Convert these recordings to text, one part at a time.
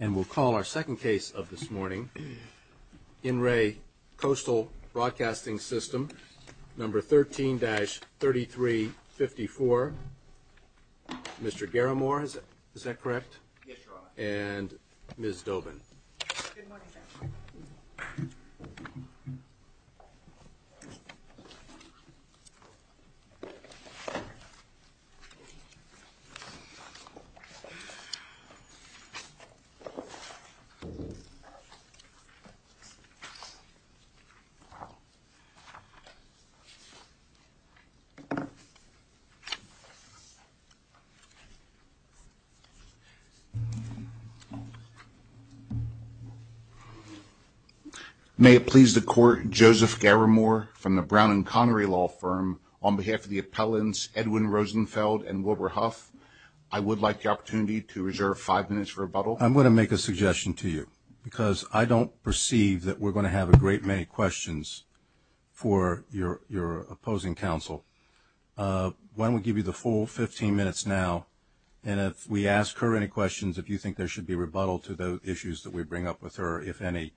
And we'll call our second case of this morning in re Coastal Broadcasting System number 13-3354, Mr. Garamore, is that correct? Yes, Your Honor. And Ms. Dobin. Good morning, sir. May it please the Court, Joseph Garamore from the Brown and Connery Law Firm, on behalf of the appellants Edwin Rosenfeld and Wilbur Huff. I would like the opportunity to reserve five minutes for rebuttal. I'm going to make a suggestion to you, because I don't perceive that we're going to have a great many questions for your opposing counsel. Why don't we give you the full 15 minutes now, and if we ask her any questions, if you think there should be rebuttal to the issues that we bring up with her, if any,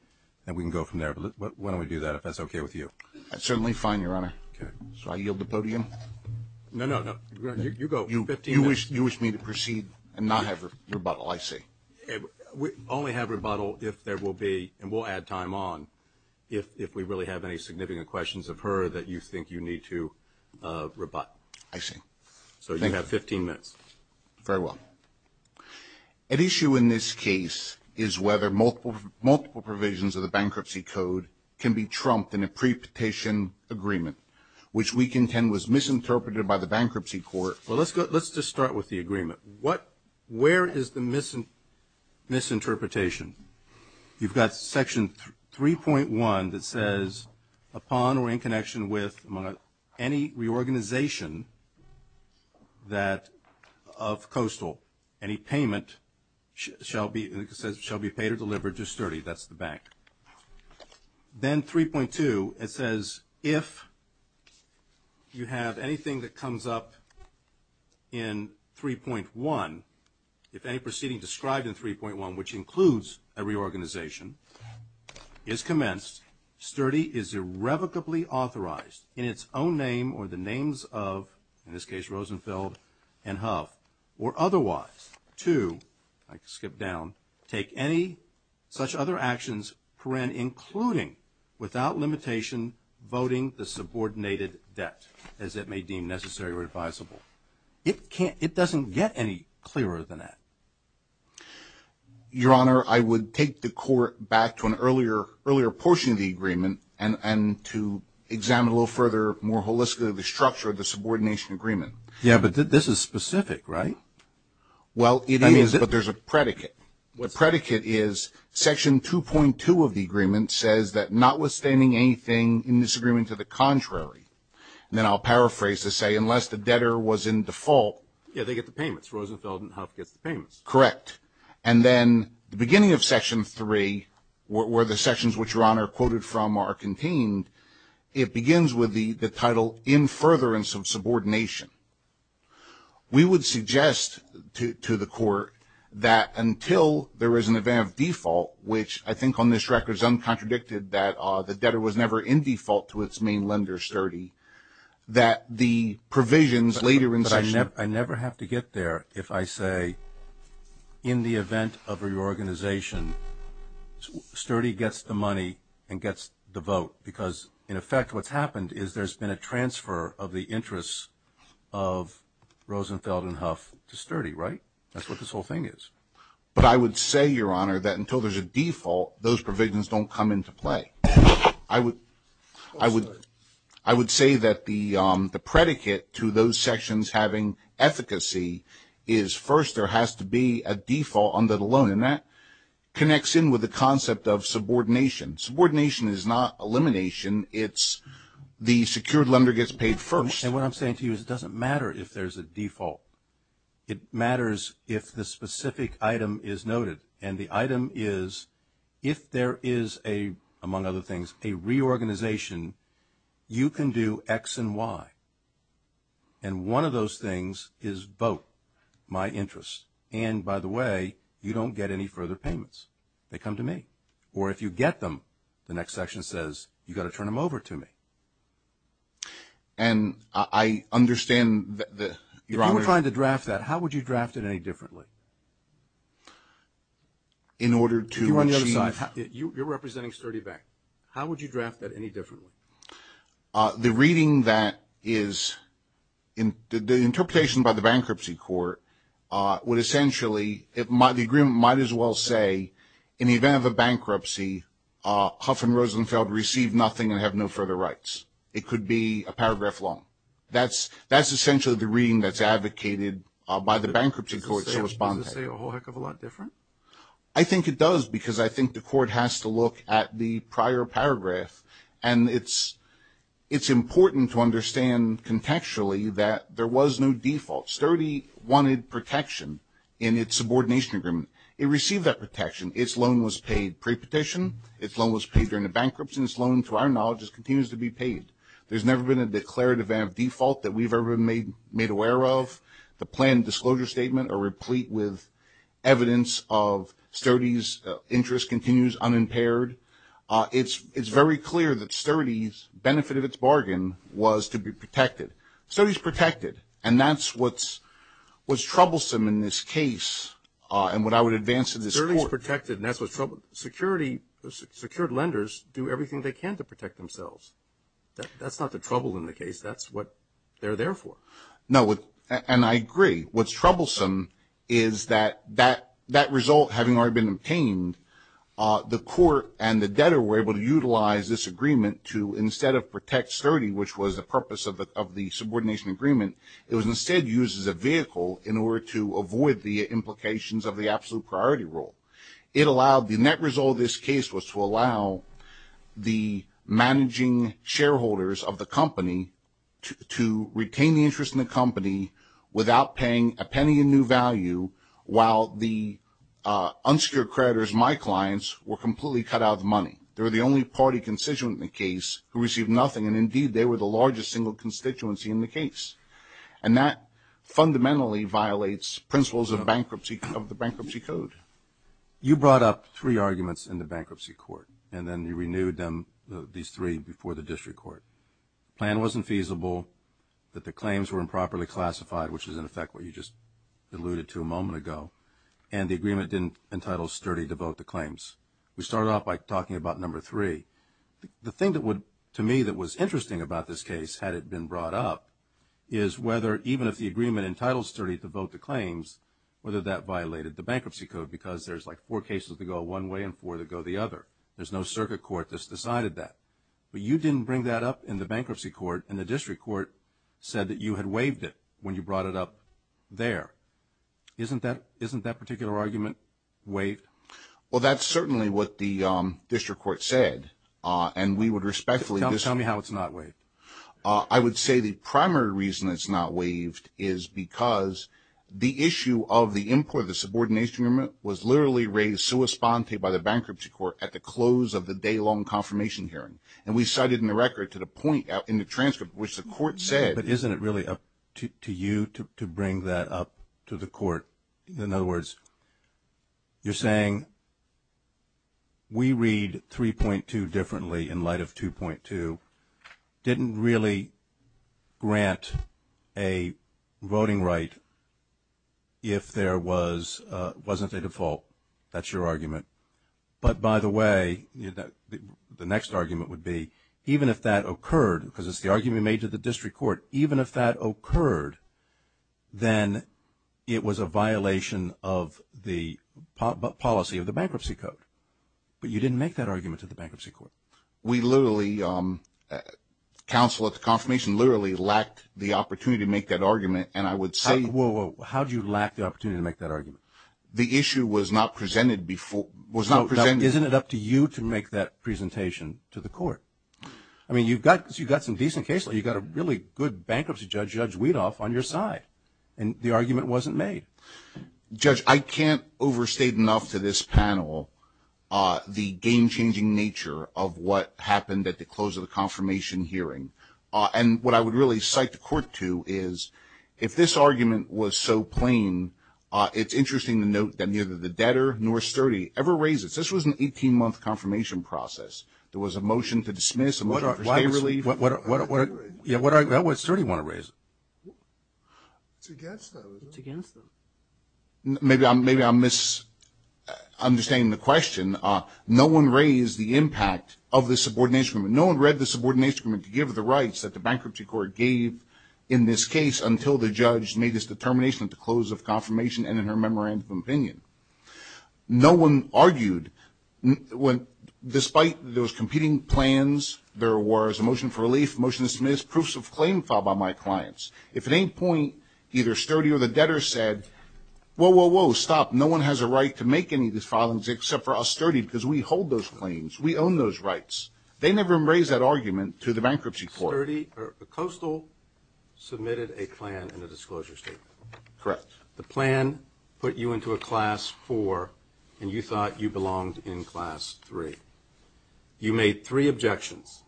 then we can go from there. But why don't we do that, if that's okay with you? That's certainly fine, Your Honor. Okay. So I yield the podium? No, no, no. You go. You wish me to proceed and not have rebuttal, I see. We only have rebuttal if there will be, and we'll add time on, if we really have any significant questions of her that you think you need to rebut. I see. So you have 15 minutes. Very well. At issue in this case is whether multiple provisions of the bankruptcy code can be trumped in a pre-petition agreement, which we contend was misinterpreted by the bankruptcy court. Well, let's just start with the agreement. Where is the misinterpretation? You've got section 3.1 that says, upon or in connection with any reorganization of Coastal, any payment shall be paid or delivered to Sturdy. That's the bank. Then 3.2, it says, if you have anything that comes up in 3.1, if any proceeding described in 3.1, which includes a reorganization, is commenced, Sturdy is irrevocably authorized, in its own name or the names of, in this case Rosenfeld and Huff, or otherwise, to, I can skip down, take any such other actions, including, without limitation, voting the subordinated debt, as it may deem necessary or advisable. It doesn't get any clearer than that. Your Honor, I would take the court back to an earlier portion of the agreement and to examine a little further, more holistically, the structure of the subordination agreement. Yeah, but this is specific, right? Well, it is, but there's a predicate. What predicate is, section 2.2 of the agreement says that, notwithstanding anything in this agreement to the contrary, and then I'll paraphrase to say, unless the debtor was in default. Yeah, they get the payments. Rosenfeld and Huff gets the payments. Correct. And then the beginning of section 3, where the sections which Your Honor quoted from are contained, it begins with the title, in furtherance of subordination. We would suggest to the court that until there is an event of default, which I think on this record is uncontradicted, that the debtor was never in default to its main lender, Sturdy, that the provisions later in section 3. But I never have to get there if I say, in the event of reorganization, Sturdy gets the money and gets the vote, because, in effect, what's happened is there's been a transfer of the interests of Rosenfeld and Huff to Sturdy, right? That's what this whole thing is. But I would say, Your Honor, that until there's a default, those provisions don't come into play. I would say that the predicate to those sections having efficacy is, first, there has to be a default under the loan. And that connects in with the concept of subordination. Subordination is not elimination. It's the secured lender gets paid first. And what I'm saying to you is it doesn't matter if there's a default. It matters if the specific item is noted. And the item is, if there is a, among other things, a reorganization, you can do X and Y. And one of those things is vote, my interests. And, by the way, you don't get any further payments. They come to me. Or if you get them, the next section says, you've got to turn them over to me. And I understand that, Your Honor. If you were trying to draft that, how would you draft it any differently? In order to achieve. You're on the other side. You're representing Sturdy Bank. How would you draft that any differently? The reading that is, the interpretation by the Bankruptcy Court would essentially, the agreement might as well say, in the event of a bankruptcy, Huff and Rosenfeld receive nothing and have no further rights. It could be a paragraph long. That's essentially the reading that's advocated by the Bankruptcy Court. Does it say a whole heck of a lot different? I think it does because I think the court has to look at the prior paragraph. And it's important to understand contextually that there was no default. Sturdy wanted protection in its subordination agreement. It received that protection. Its loan was paid pre-petition. Its loan was paid during the bankruptcy. Its loan, to our knowledge, continues to be paid. There's never been a declared event of default that we've ever made aware of. The planned disclosure statement are replete with evidence of Sturdy's interest continues unimpaired. It's very clear that Sturdy's benefit of its bargain was to be protected. Sturdy's protected, and that's what's troublesome in this case and what I would advance to this court. Sturdy's protected, and that's what's troubling. Secured lenders do everything they can to protect themselves. That's not the trouble in the case. That's what they're there for. No, and I agree. What's troublesome is that that result having already been obtained, the court and the debtor were able to utilize this agreement to instead of protect Sturdy, which was the purpose of the subordination agreement, it was instead used as a vehicle in order to avoid the implications of the absolute priority rule. It allowed the net result of this case was to allow the managing shareholders of the company to retain the interest in the company without paying a penny in new value, while the unsecured creditors, my clients, were completely cut out of the money. They were the only party constituent in the case who received nothing, and indeed they were the largest single constituency in the case. And that fundamentally violates principles of the bankruptcy code. You brought up three arguments in the bankruptcy court, and then you renewed these three before the district court. The plan wasn't feasible, that the claims were improperly classified, which is, in effect, what you just alluded to a moment ago, and the agreement didn't entitle Sturdy to vote the claims. We started off by talking about number three. The thing that would, to me, that was interesting about this case, had it been brought up, is whether even if the agreement entitled Sturdy to vote the claims, whether that violated the bankruptcy code, because there's like four cases that go one way and four that go the other. There's no circuit court that's decided that. But you didn't bring that up in the bankruptcy court, and the district court said that you had waived it when you brought it up there. Isn't that particular argument waived? Well, that's certainly what the district court said, and we would respectfully disagree. Tell me how it's not waived. I would say the primary reason it's not waived is because the issue of the import, the subordination agreement, was literally raised sua sponte by the bankruptcy court at the close of the day-long confirmation hearing. And we cited in the record to the point in the transcript which the court said. But isn't it really up to you to bring that up to the court? In other words, you're saying we read 3.2 differently in light of 2.2, didn't really grant a voting right if there wasn't a default. That's your argument. But, by the way, the next argument would be even if that occurred, because it's the argument made to the district court, even if that occurred, then it was a violation of the policy of the bankruptcy code. But you didn't make that argument to the bankruptcy court. We literally, counsel at the confirmation, literally lacked the opportunity to make that argument, and I would say. How did you lack the opportunity to make that argument? The issue was not presented before. Isn't it up to you to make that presentation to the court? I mean, you've got some decent cases. You've got a really good bankruptcy judge, Judge Weedoff, on your side. And the argument wasn't made. Judge, I can't overstate enough to this panel the game-changing nature of what happened at the close of the confirmation hearing. And what I would really cite the court to is if this argument was so plain, it's interesting to note that neither the debtor nor Sturdy ever raised it. This was an 18-month confirmation process. There was a motion to dismiss. What did Sturdy want to raise? It's against them. Maybe I'm misunderstanding the question. No one raised the impact of the subordination agreement. No one read the subordination agreement to give the rights that the bankruptcy court gave in this case until the judge made his determination at the close of confirmation and in her memorandum of opinion. No one argued. Despite those competing plans, there was a motion for relief, a motion to dismiss, proofs of claim filed by my clients. If at any point either Sturdy or the debtor said, whoa, whoa, whoa, stop. No one has a right to make any of these filings except for us, Sturdy, because we hold those claims. We own those rights. They never raised that argument to the bankruptcy court. Sturdy or Coastal submitted a plan and a disclosure statement. Correct. The plan put you into a class four, and you thought you belonged in class three. You made three objections,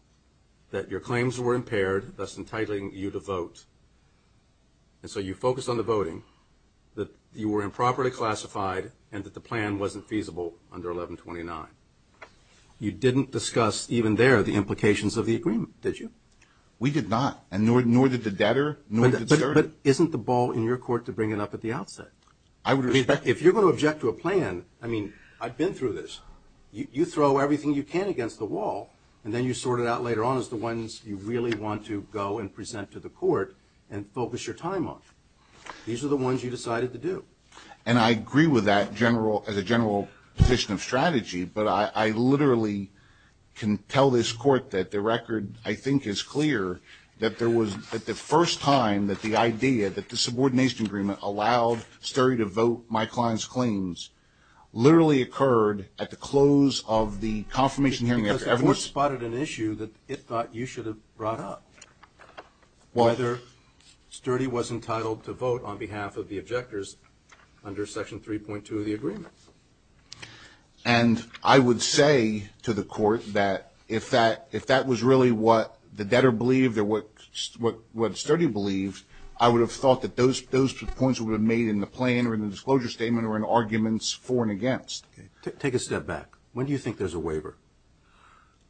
that your claims were impaired, thus entitling you to vote. And so you focused on the voting, that you were improperly classified, and that the plan wasn't feasible under 1129. You didn't discuss even there the implications of the agreement, did you? We did not, nor did the debtor, nor did Sturdy. But isn't the ball in your court to bring it up at the outset? I would respect that. If you're going to object to a plan, I mean, I've been through this. You throw everything you can against the wall, and then you sort it out later on as the ones you really want to go and present to the court and focus your time on. These are the ones you decided to do. And I agree with that as a general position of strategy, but I literally can tell this court that the record, I think, is clear, that there was the first time that the idea, that the subordination agreement allowed Sturdy to vote my client's claims, literally occurred at the close of the confirmation hearing. Because the court spotted an issue that it thought you should have brought up, whether Sturdy was entitled to vote on behalf of the objectors under Section 3.2 of the agreement. And I would say to the court that if that was really what the debtor believed or what Sturdy believed, I would have thought that those points would have been made in the plan or in the disclosure statement or in arguments for and against. Take a step back. When do you think there's a waiver?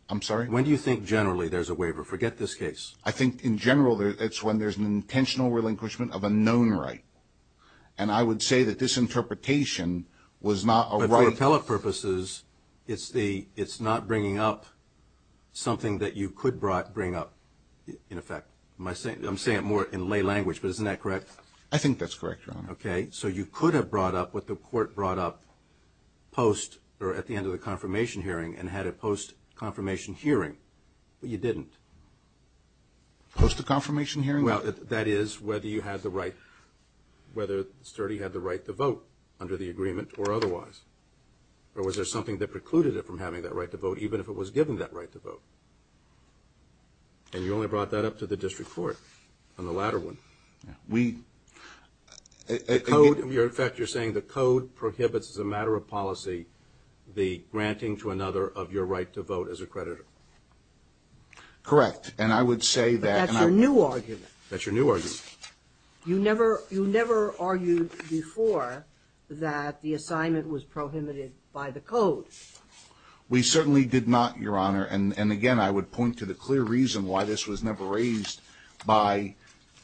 I'm sorry? When do you think generally there's a waiver? Forget this case. I think in general it's when there's an intentional relinquishment of a known right. And I would say that this interpretation was not a right. But for appellate purposes, it's not bringing up something that you could bring up, in effect. I'm saying it more in lay language, but isn't that correct? I think that's correct, Your Honor. Okay. So you could have brought up what the court brought up post or at the end of the confirmation hearing and had it post-confirmation hearing, but you didn't. Post-confirmation hearing? Well, that is whether you had the right, whether Sturdy had the right to vote under the agreement or otherwise. Or was there something that precluded it from having that right to vote, even if it was given that right to vote? And you only brought that up to the district court on the latter one. We – In fact, you're saying the code prohibits as a matter of policy the granting to another of your right to vote as a creditor. Correct. And I would say that – But that's your new argument. That's your new argument. You never argued before that the assignment was prohibited by the code. We certainly did not, Your Honor. And again, I would point to the clear reason why this was never raised by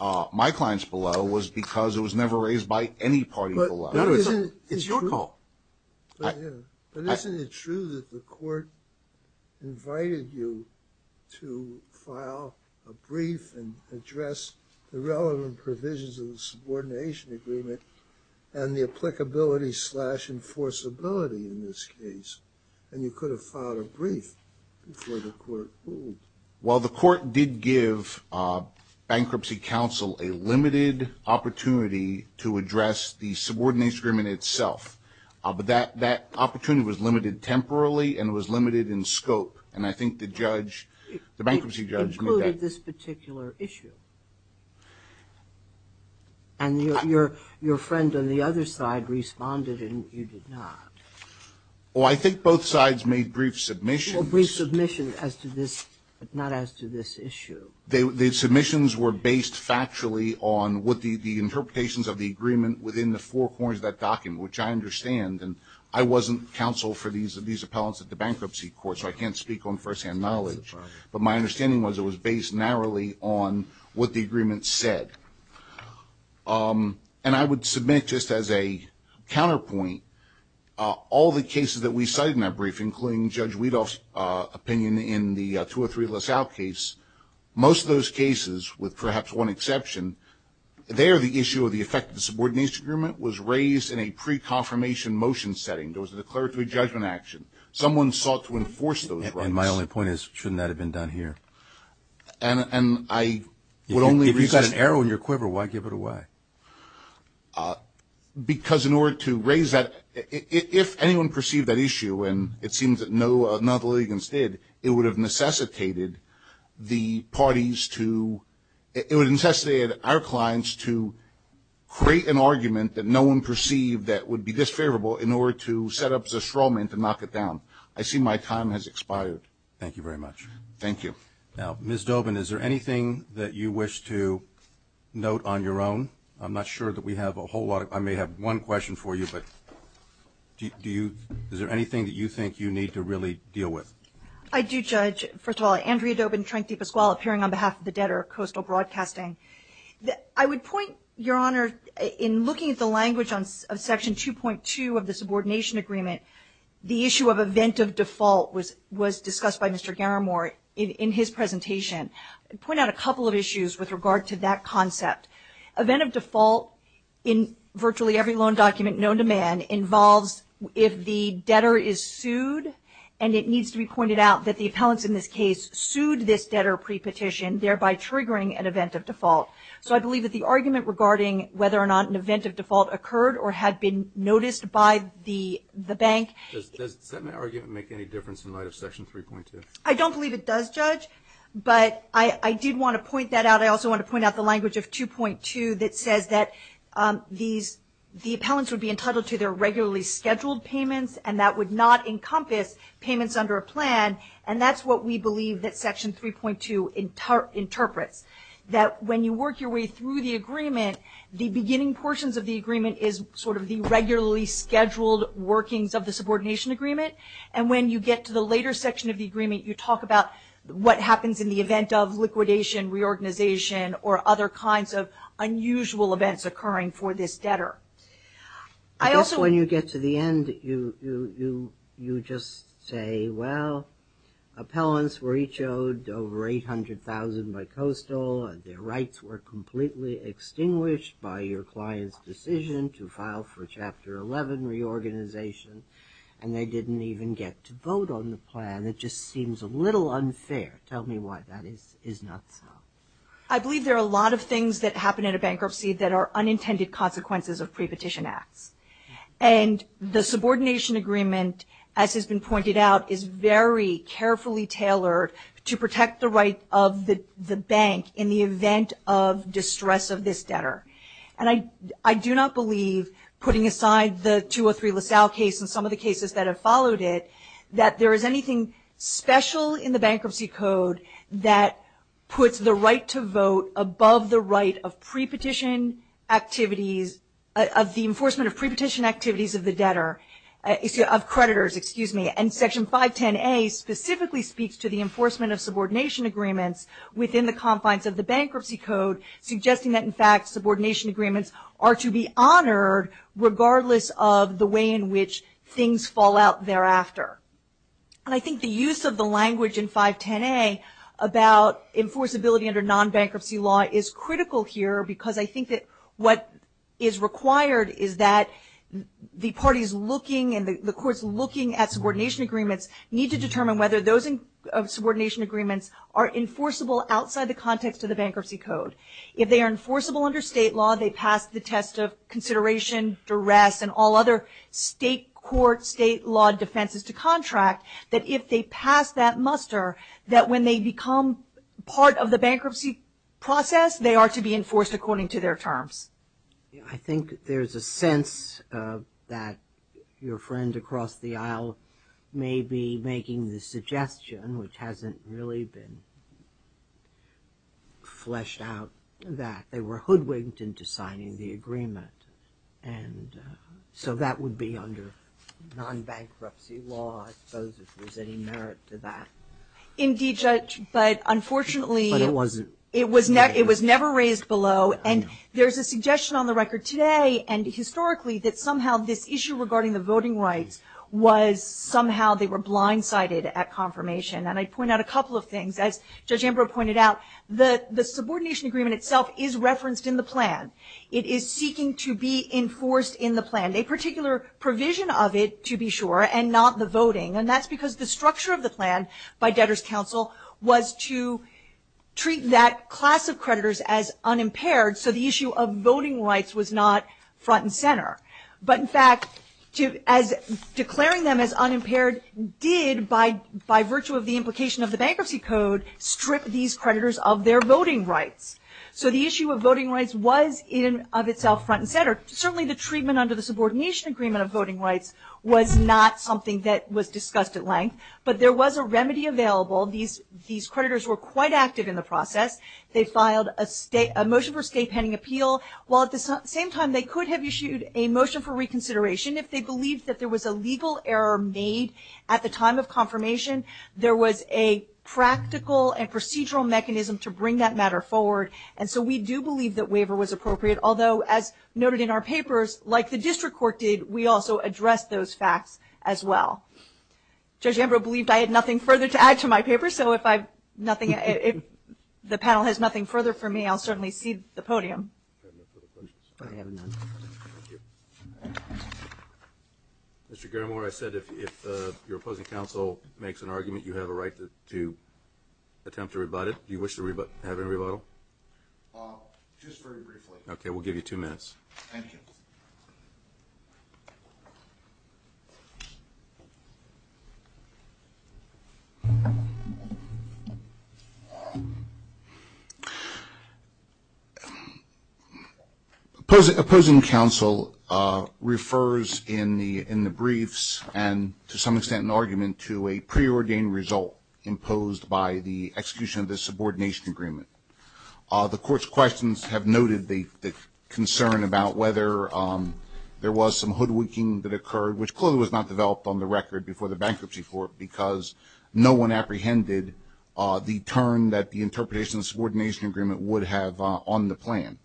my clients below was because it was never raised by any party below. It's your call. But isn't it true that the court invited you to file a brief and address the relevant provisions of the subordination agreement and the applicability slash enforceability in this case? And you could have filed a brief before the court ruled. Well, the court did give Bankruptcy Council a limited opportunity to address the subordination agreement itself. But that opportunity was limited temporarily and it was limited in scope. And I think the judge, the bankruptcy judge – Well, why did this particular issue? And your friend on the other side responded and you did not. Well, I think both sides made brief submissions. Well, brief submissions as to this – not as to this issue. The submissions were based factually on the interpretations of the agreement within the four corners of that document, which I understand. And I wasn't counsel for these appellants at the bankruptcy court, so I can't speak on firsthand knowledge. But my understanding was it was based narrowly on what the agreement said. And I would submit just as a counterpoint, all the cases that we cited in that brief, including Judge Weadov's opinion in the 203 LaSalle case, most of those cases, with perhaps one exception, there the issue of the effect of the subordination agreement was raised in a pre-confirmation motion setting. There was a declaratory judgment action. Someone sought to enforce those rights. And my only point is, shouldn't that have been done here? And I would only – If you've got an arrow in your quiver, why give it away? Because in order to raise that – if anyone perceived that issue, and it seems that no non-legal agents did, it would have necessitated the parties to – it would have necessitated our clients to create an argument that no one perceived that would be disfavorable in order to set up the straw man to knock it down. I see my time has expired. Thank you very much. Thank you. Now, Ms. Dobin, is there anything that you wish to note on your own? I'm not sure that we have a whole lot. I may have one question for you, but do you – is there anything that you think you need to really deal with? I do, Judge. First of all, Andrea Dobin, Trank De Pasquale, appearing on behalf of the debtor, Coastal Broadcasting. I would point, Your Honor, in looking at the language of Section 2.2 of the subordination agreement, the issue of event of default was discussed by Mr. Garamore in his presentation. I'd point out a couple of issues with regard to that concept. Event of default in virtually every loan document known to man involves if the debtor is sued, and it needs to be pointed out that the appellants in this case sued this debtor pre-petition, thereby triggering an event of default. So I believe that the argument regarding whether or not an event of default occurred or had been noticed by the bank – Does that argument make any difference in light of Section 3.2? I don't believe it does, Judge, but I did want to point that out. I also want to point out the language of 2.2 that says that these – the appellants would be entitled to their regularly scheduled payments, and that would not encompass payments under a plan, and that's what we believe that Section 3.2 interprets, that when you work your way through the agreement, the beginning portions of the agreement is sort of the regularly scheduled workings of the subordination agreement, and when you get to the later section of the agreement, you talk about what happens in the event of liquidation, reorganization, or other kinds of unusual events occurring for this debtor. I also – I guess when you get to the end, you just say, well, appellants were each owed over $800,000 by Coastal, and their rights were completely extinguished by your client's decision to file for Chapter 11 reorganization, and they didn't even get to vote on the plan. It just seems a little unfair. Tell me why that is not so. I believe there are a lot of things that happen in a bankruptcy that are unintended consequences of prepetition acts, and the subordination agreement, as has been pointed out, is very carefully tailored to protect the right of the bank in the event of distress of this debtor. And I do not believe, putting aside the 203 LaSalle case and some of the cases that have followed it, that there is anything special in the bankruptcy code that puts the right to vote above the right of 510A specifically speaks to the enforcement of subordination agreements within the confines of the bankruptcy code, suggesting that, in fact, subordination agreements are to be honored regardless of the way in which things fall out thereafter. And I think the use of the language in 510A about enforceability under non-bankruptcy law is critical here because I think that what is required is that the parties looking and the courts looking at subordination agreements need to determine whether those subordination agreements are enforceable outside the context of the bankruptcy code. If they are enforceable under state law, they pass the test of consideration, duress, and all other state court, state law defenses to contract, that if they pass that muster, that when they become part of the bankruptcy process, they are to be enforced according to their terms. I think there's a sense that your friend across the aisle may be making the suggestion, which hasn't really been fleshed out, that they were hoodwinked into signing the agreement. And so that would be under non-bankruptcy law, I suppose, if there's any merit to that. Indeed, Judge, but unfortunately it was never raised below. And there's a suggestion on the record today and historically that somehow this issue regarding the voting rights was somehow they were blindsided at confirmation. And I'd point out a couple of things. As Judge Ambrose pointed out, the subordination agreement itself is referenced in the plan. It is seeking to be enforced in the plan, a particular provision of it, to be sure, and not the voting. And that's because the structure of the plan by debtors' counsel was to treat that class of creditors as unimpaired, so the issue of voting rights was not front and center. But in fact, declaring them as unimpaired did, by virtue of the implication of the bankruptcy code, strip these creditors of their voting rights. So the issue of voting rights was in and of itself front and center. Certainly the treatment under the subordination agreement of voting rights was not something that was discussed at length, but there was a remedy available. These creditors were quite active in the process. They filed a motion for state pending appeal. While at the same time they could have issued a motion for reconsideration, if they believed that there was a legal error made at the time of confirmation, there was a practical and procedural mechanism to bring that matter forward. And so we do believe that waiver was appropriate, although, as noted in our papers, like the district court did, we also addressed those facts as well. Judge Ambrose believed I had nothing further to add to my paper, so if the panel has nothing further for me, I'll certainly cede the podium. Mr. Garamore, I said if your opposing counsel makes an argument, you have a right to attempt to rebut it. Do you wish to have a rebuttal? Just very briefly. Okay, we'll give you two minutes. Thank you. Opposing counsel refers in the briefs and to some extent in argument to a preordained result imposed by the execution of the subordination agreement. The court's questions have noted the concern about whether there was some hoodwinking that occurred, which clearly was not developed on the record before the bankruptcy court because no one apprehended the term that the interpretation of the subordination agreement would have on the plan.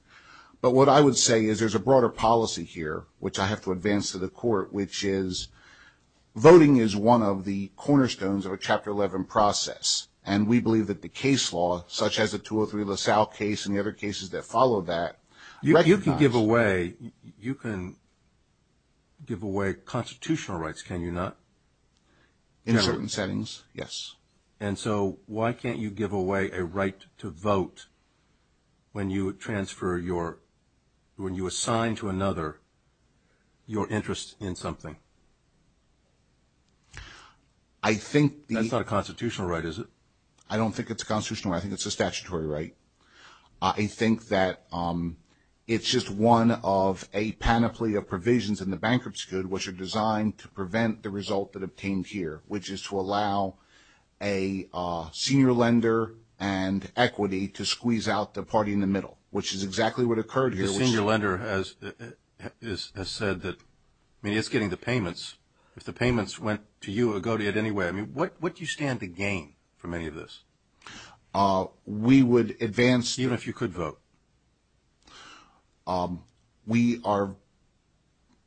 But what I would say is there's a broader policy here, which I have to advance to the court, which is voting is one of the cornerstones of a Chapter 11 process. And we believe that the case law, such as the 203 LaSalle case and the other cases that follow that. You can give away constitutional rights, can you not? In certain settings, yes. And so why can't you give away a right to vote when you assign to another your interest in something? That's not a constitutional right, is it? I don't think it's a constitutional right. I think it's a statutory right. I think that it's just one of a panoply of provisions in the bankruptcy code, which are designed to prevent the result that obtained here, which is to allow a senior lender and equity to squeeze out the party in the middle, which is exactly what occurred here. A senior lender has said that, I mean, it's getting the payments. If the payments went to you or go to you in any way, what do you stand to gain from any of this? We would advance. Even if you could vote? We are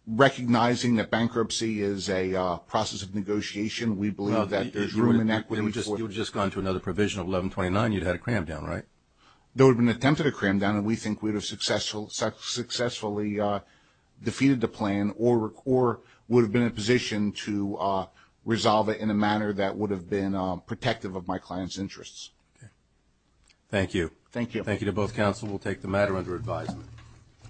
recognizing that bankruptcy is a process of negotiation. We believe that there's room in equity. You would have just gone to another provision of 1129, you'd have had a cram down, right? There would have been an attempt at a cram down, and we think we would have successfully defeated the plan or would have been in a position to resolve it in a manner that would have been protective of my client's interests. Thank you. Thank you. Thank you to both counsel. We'll take the matter under advisement.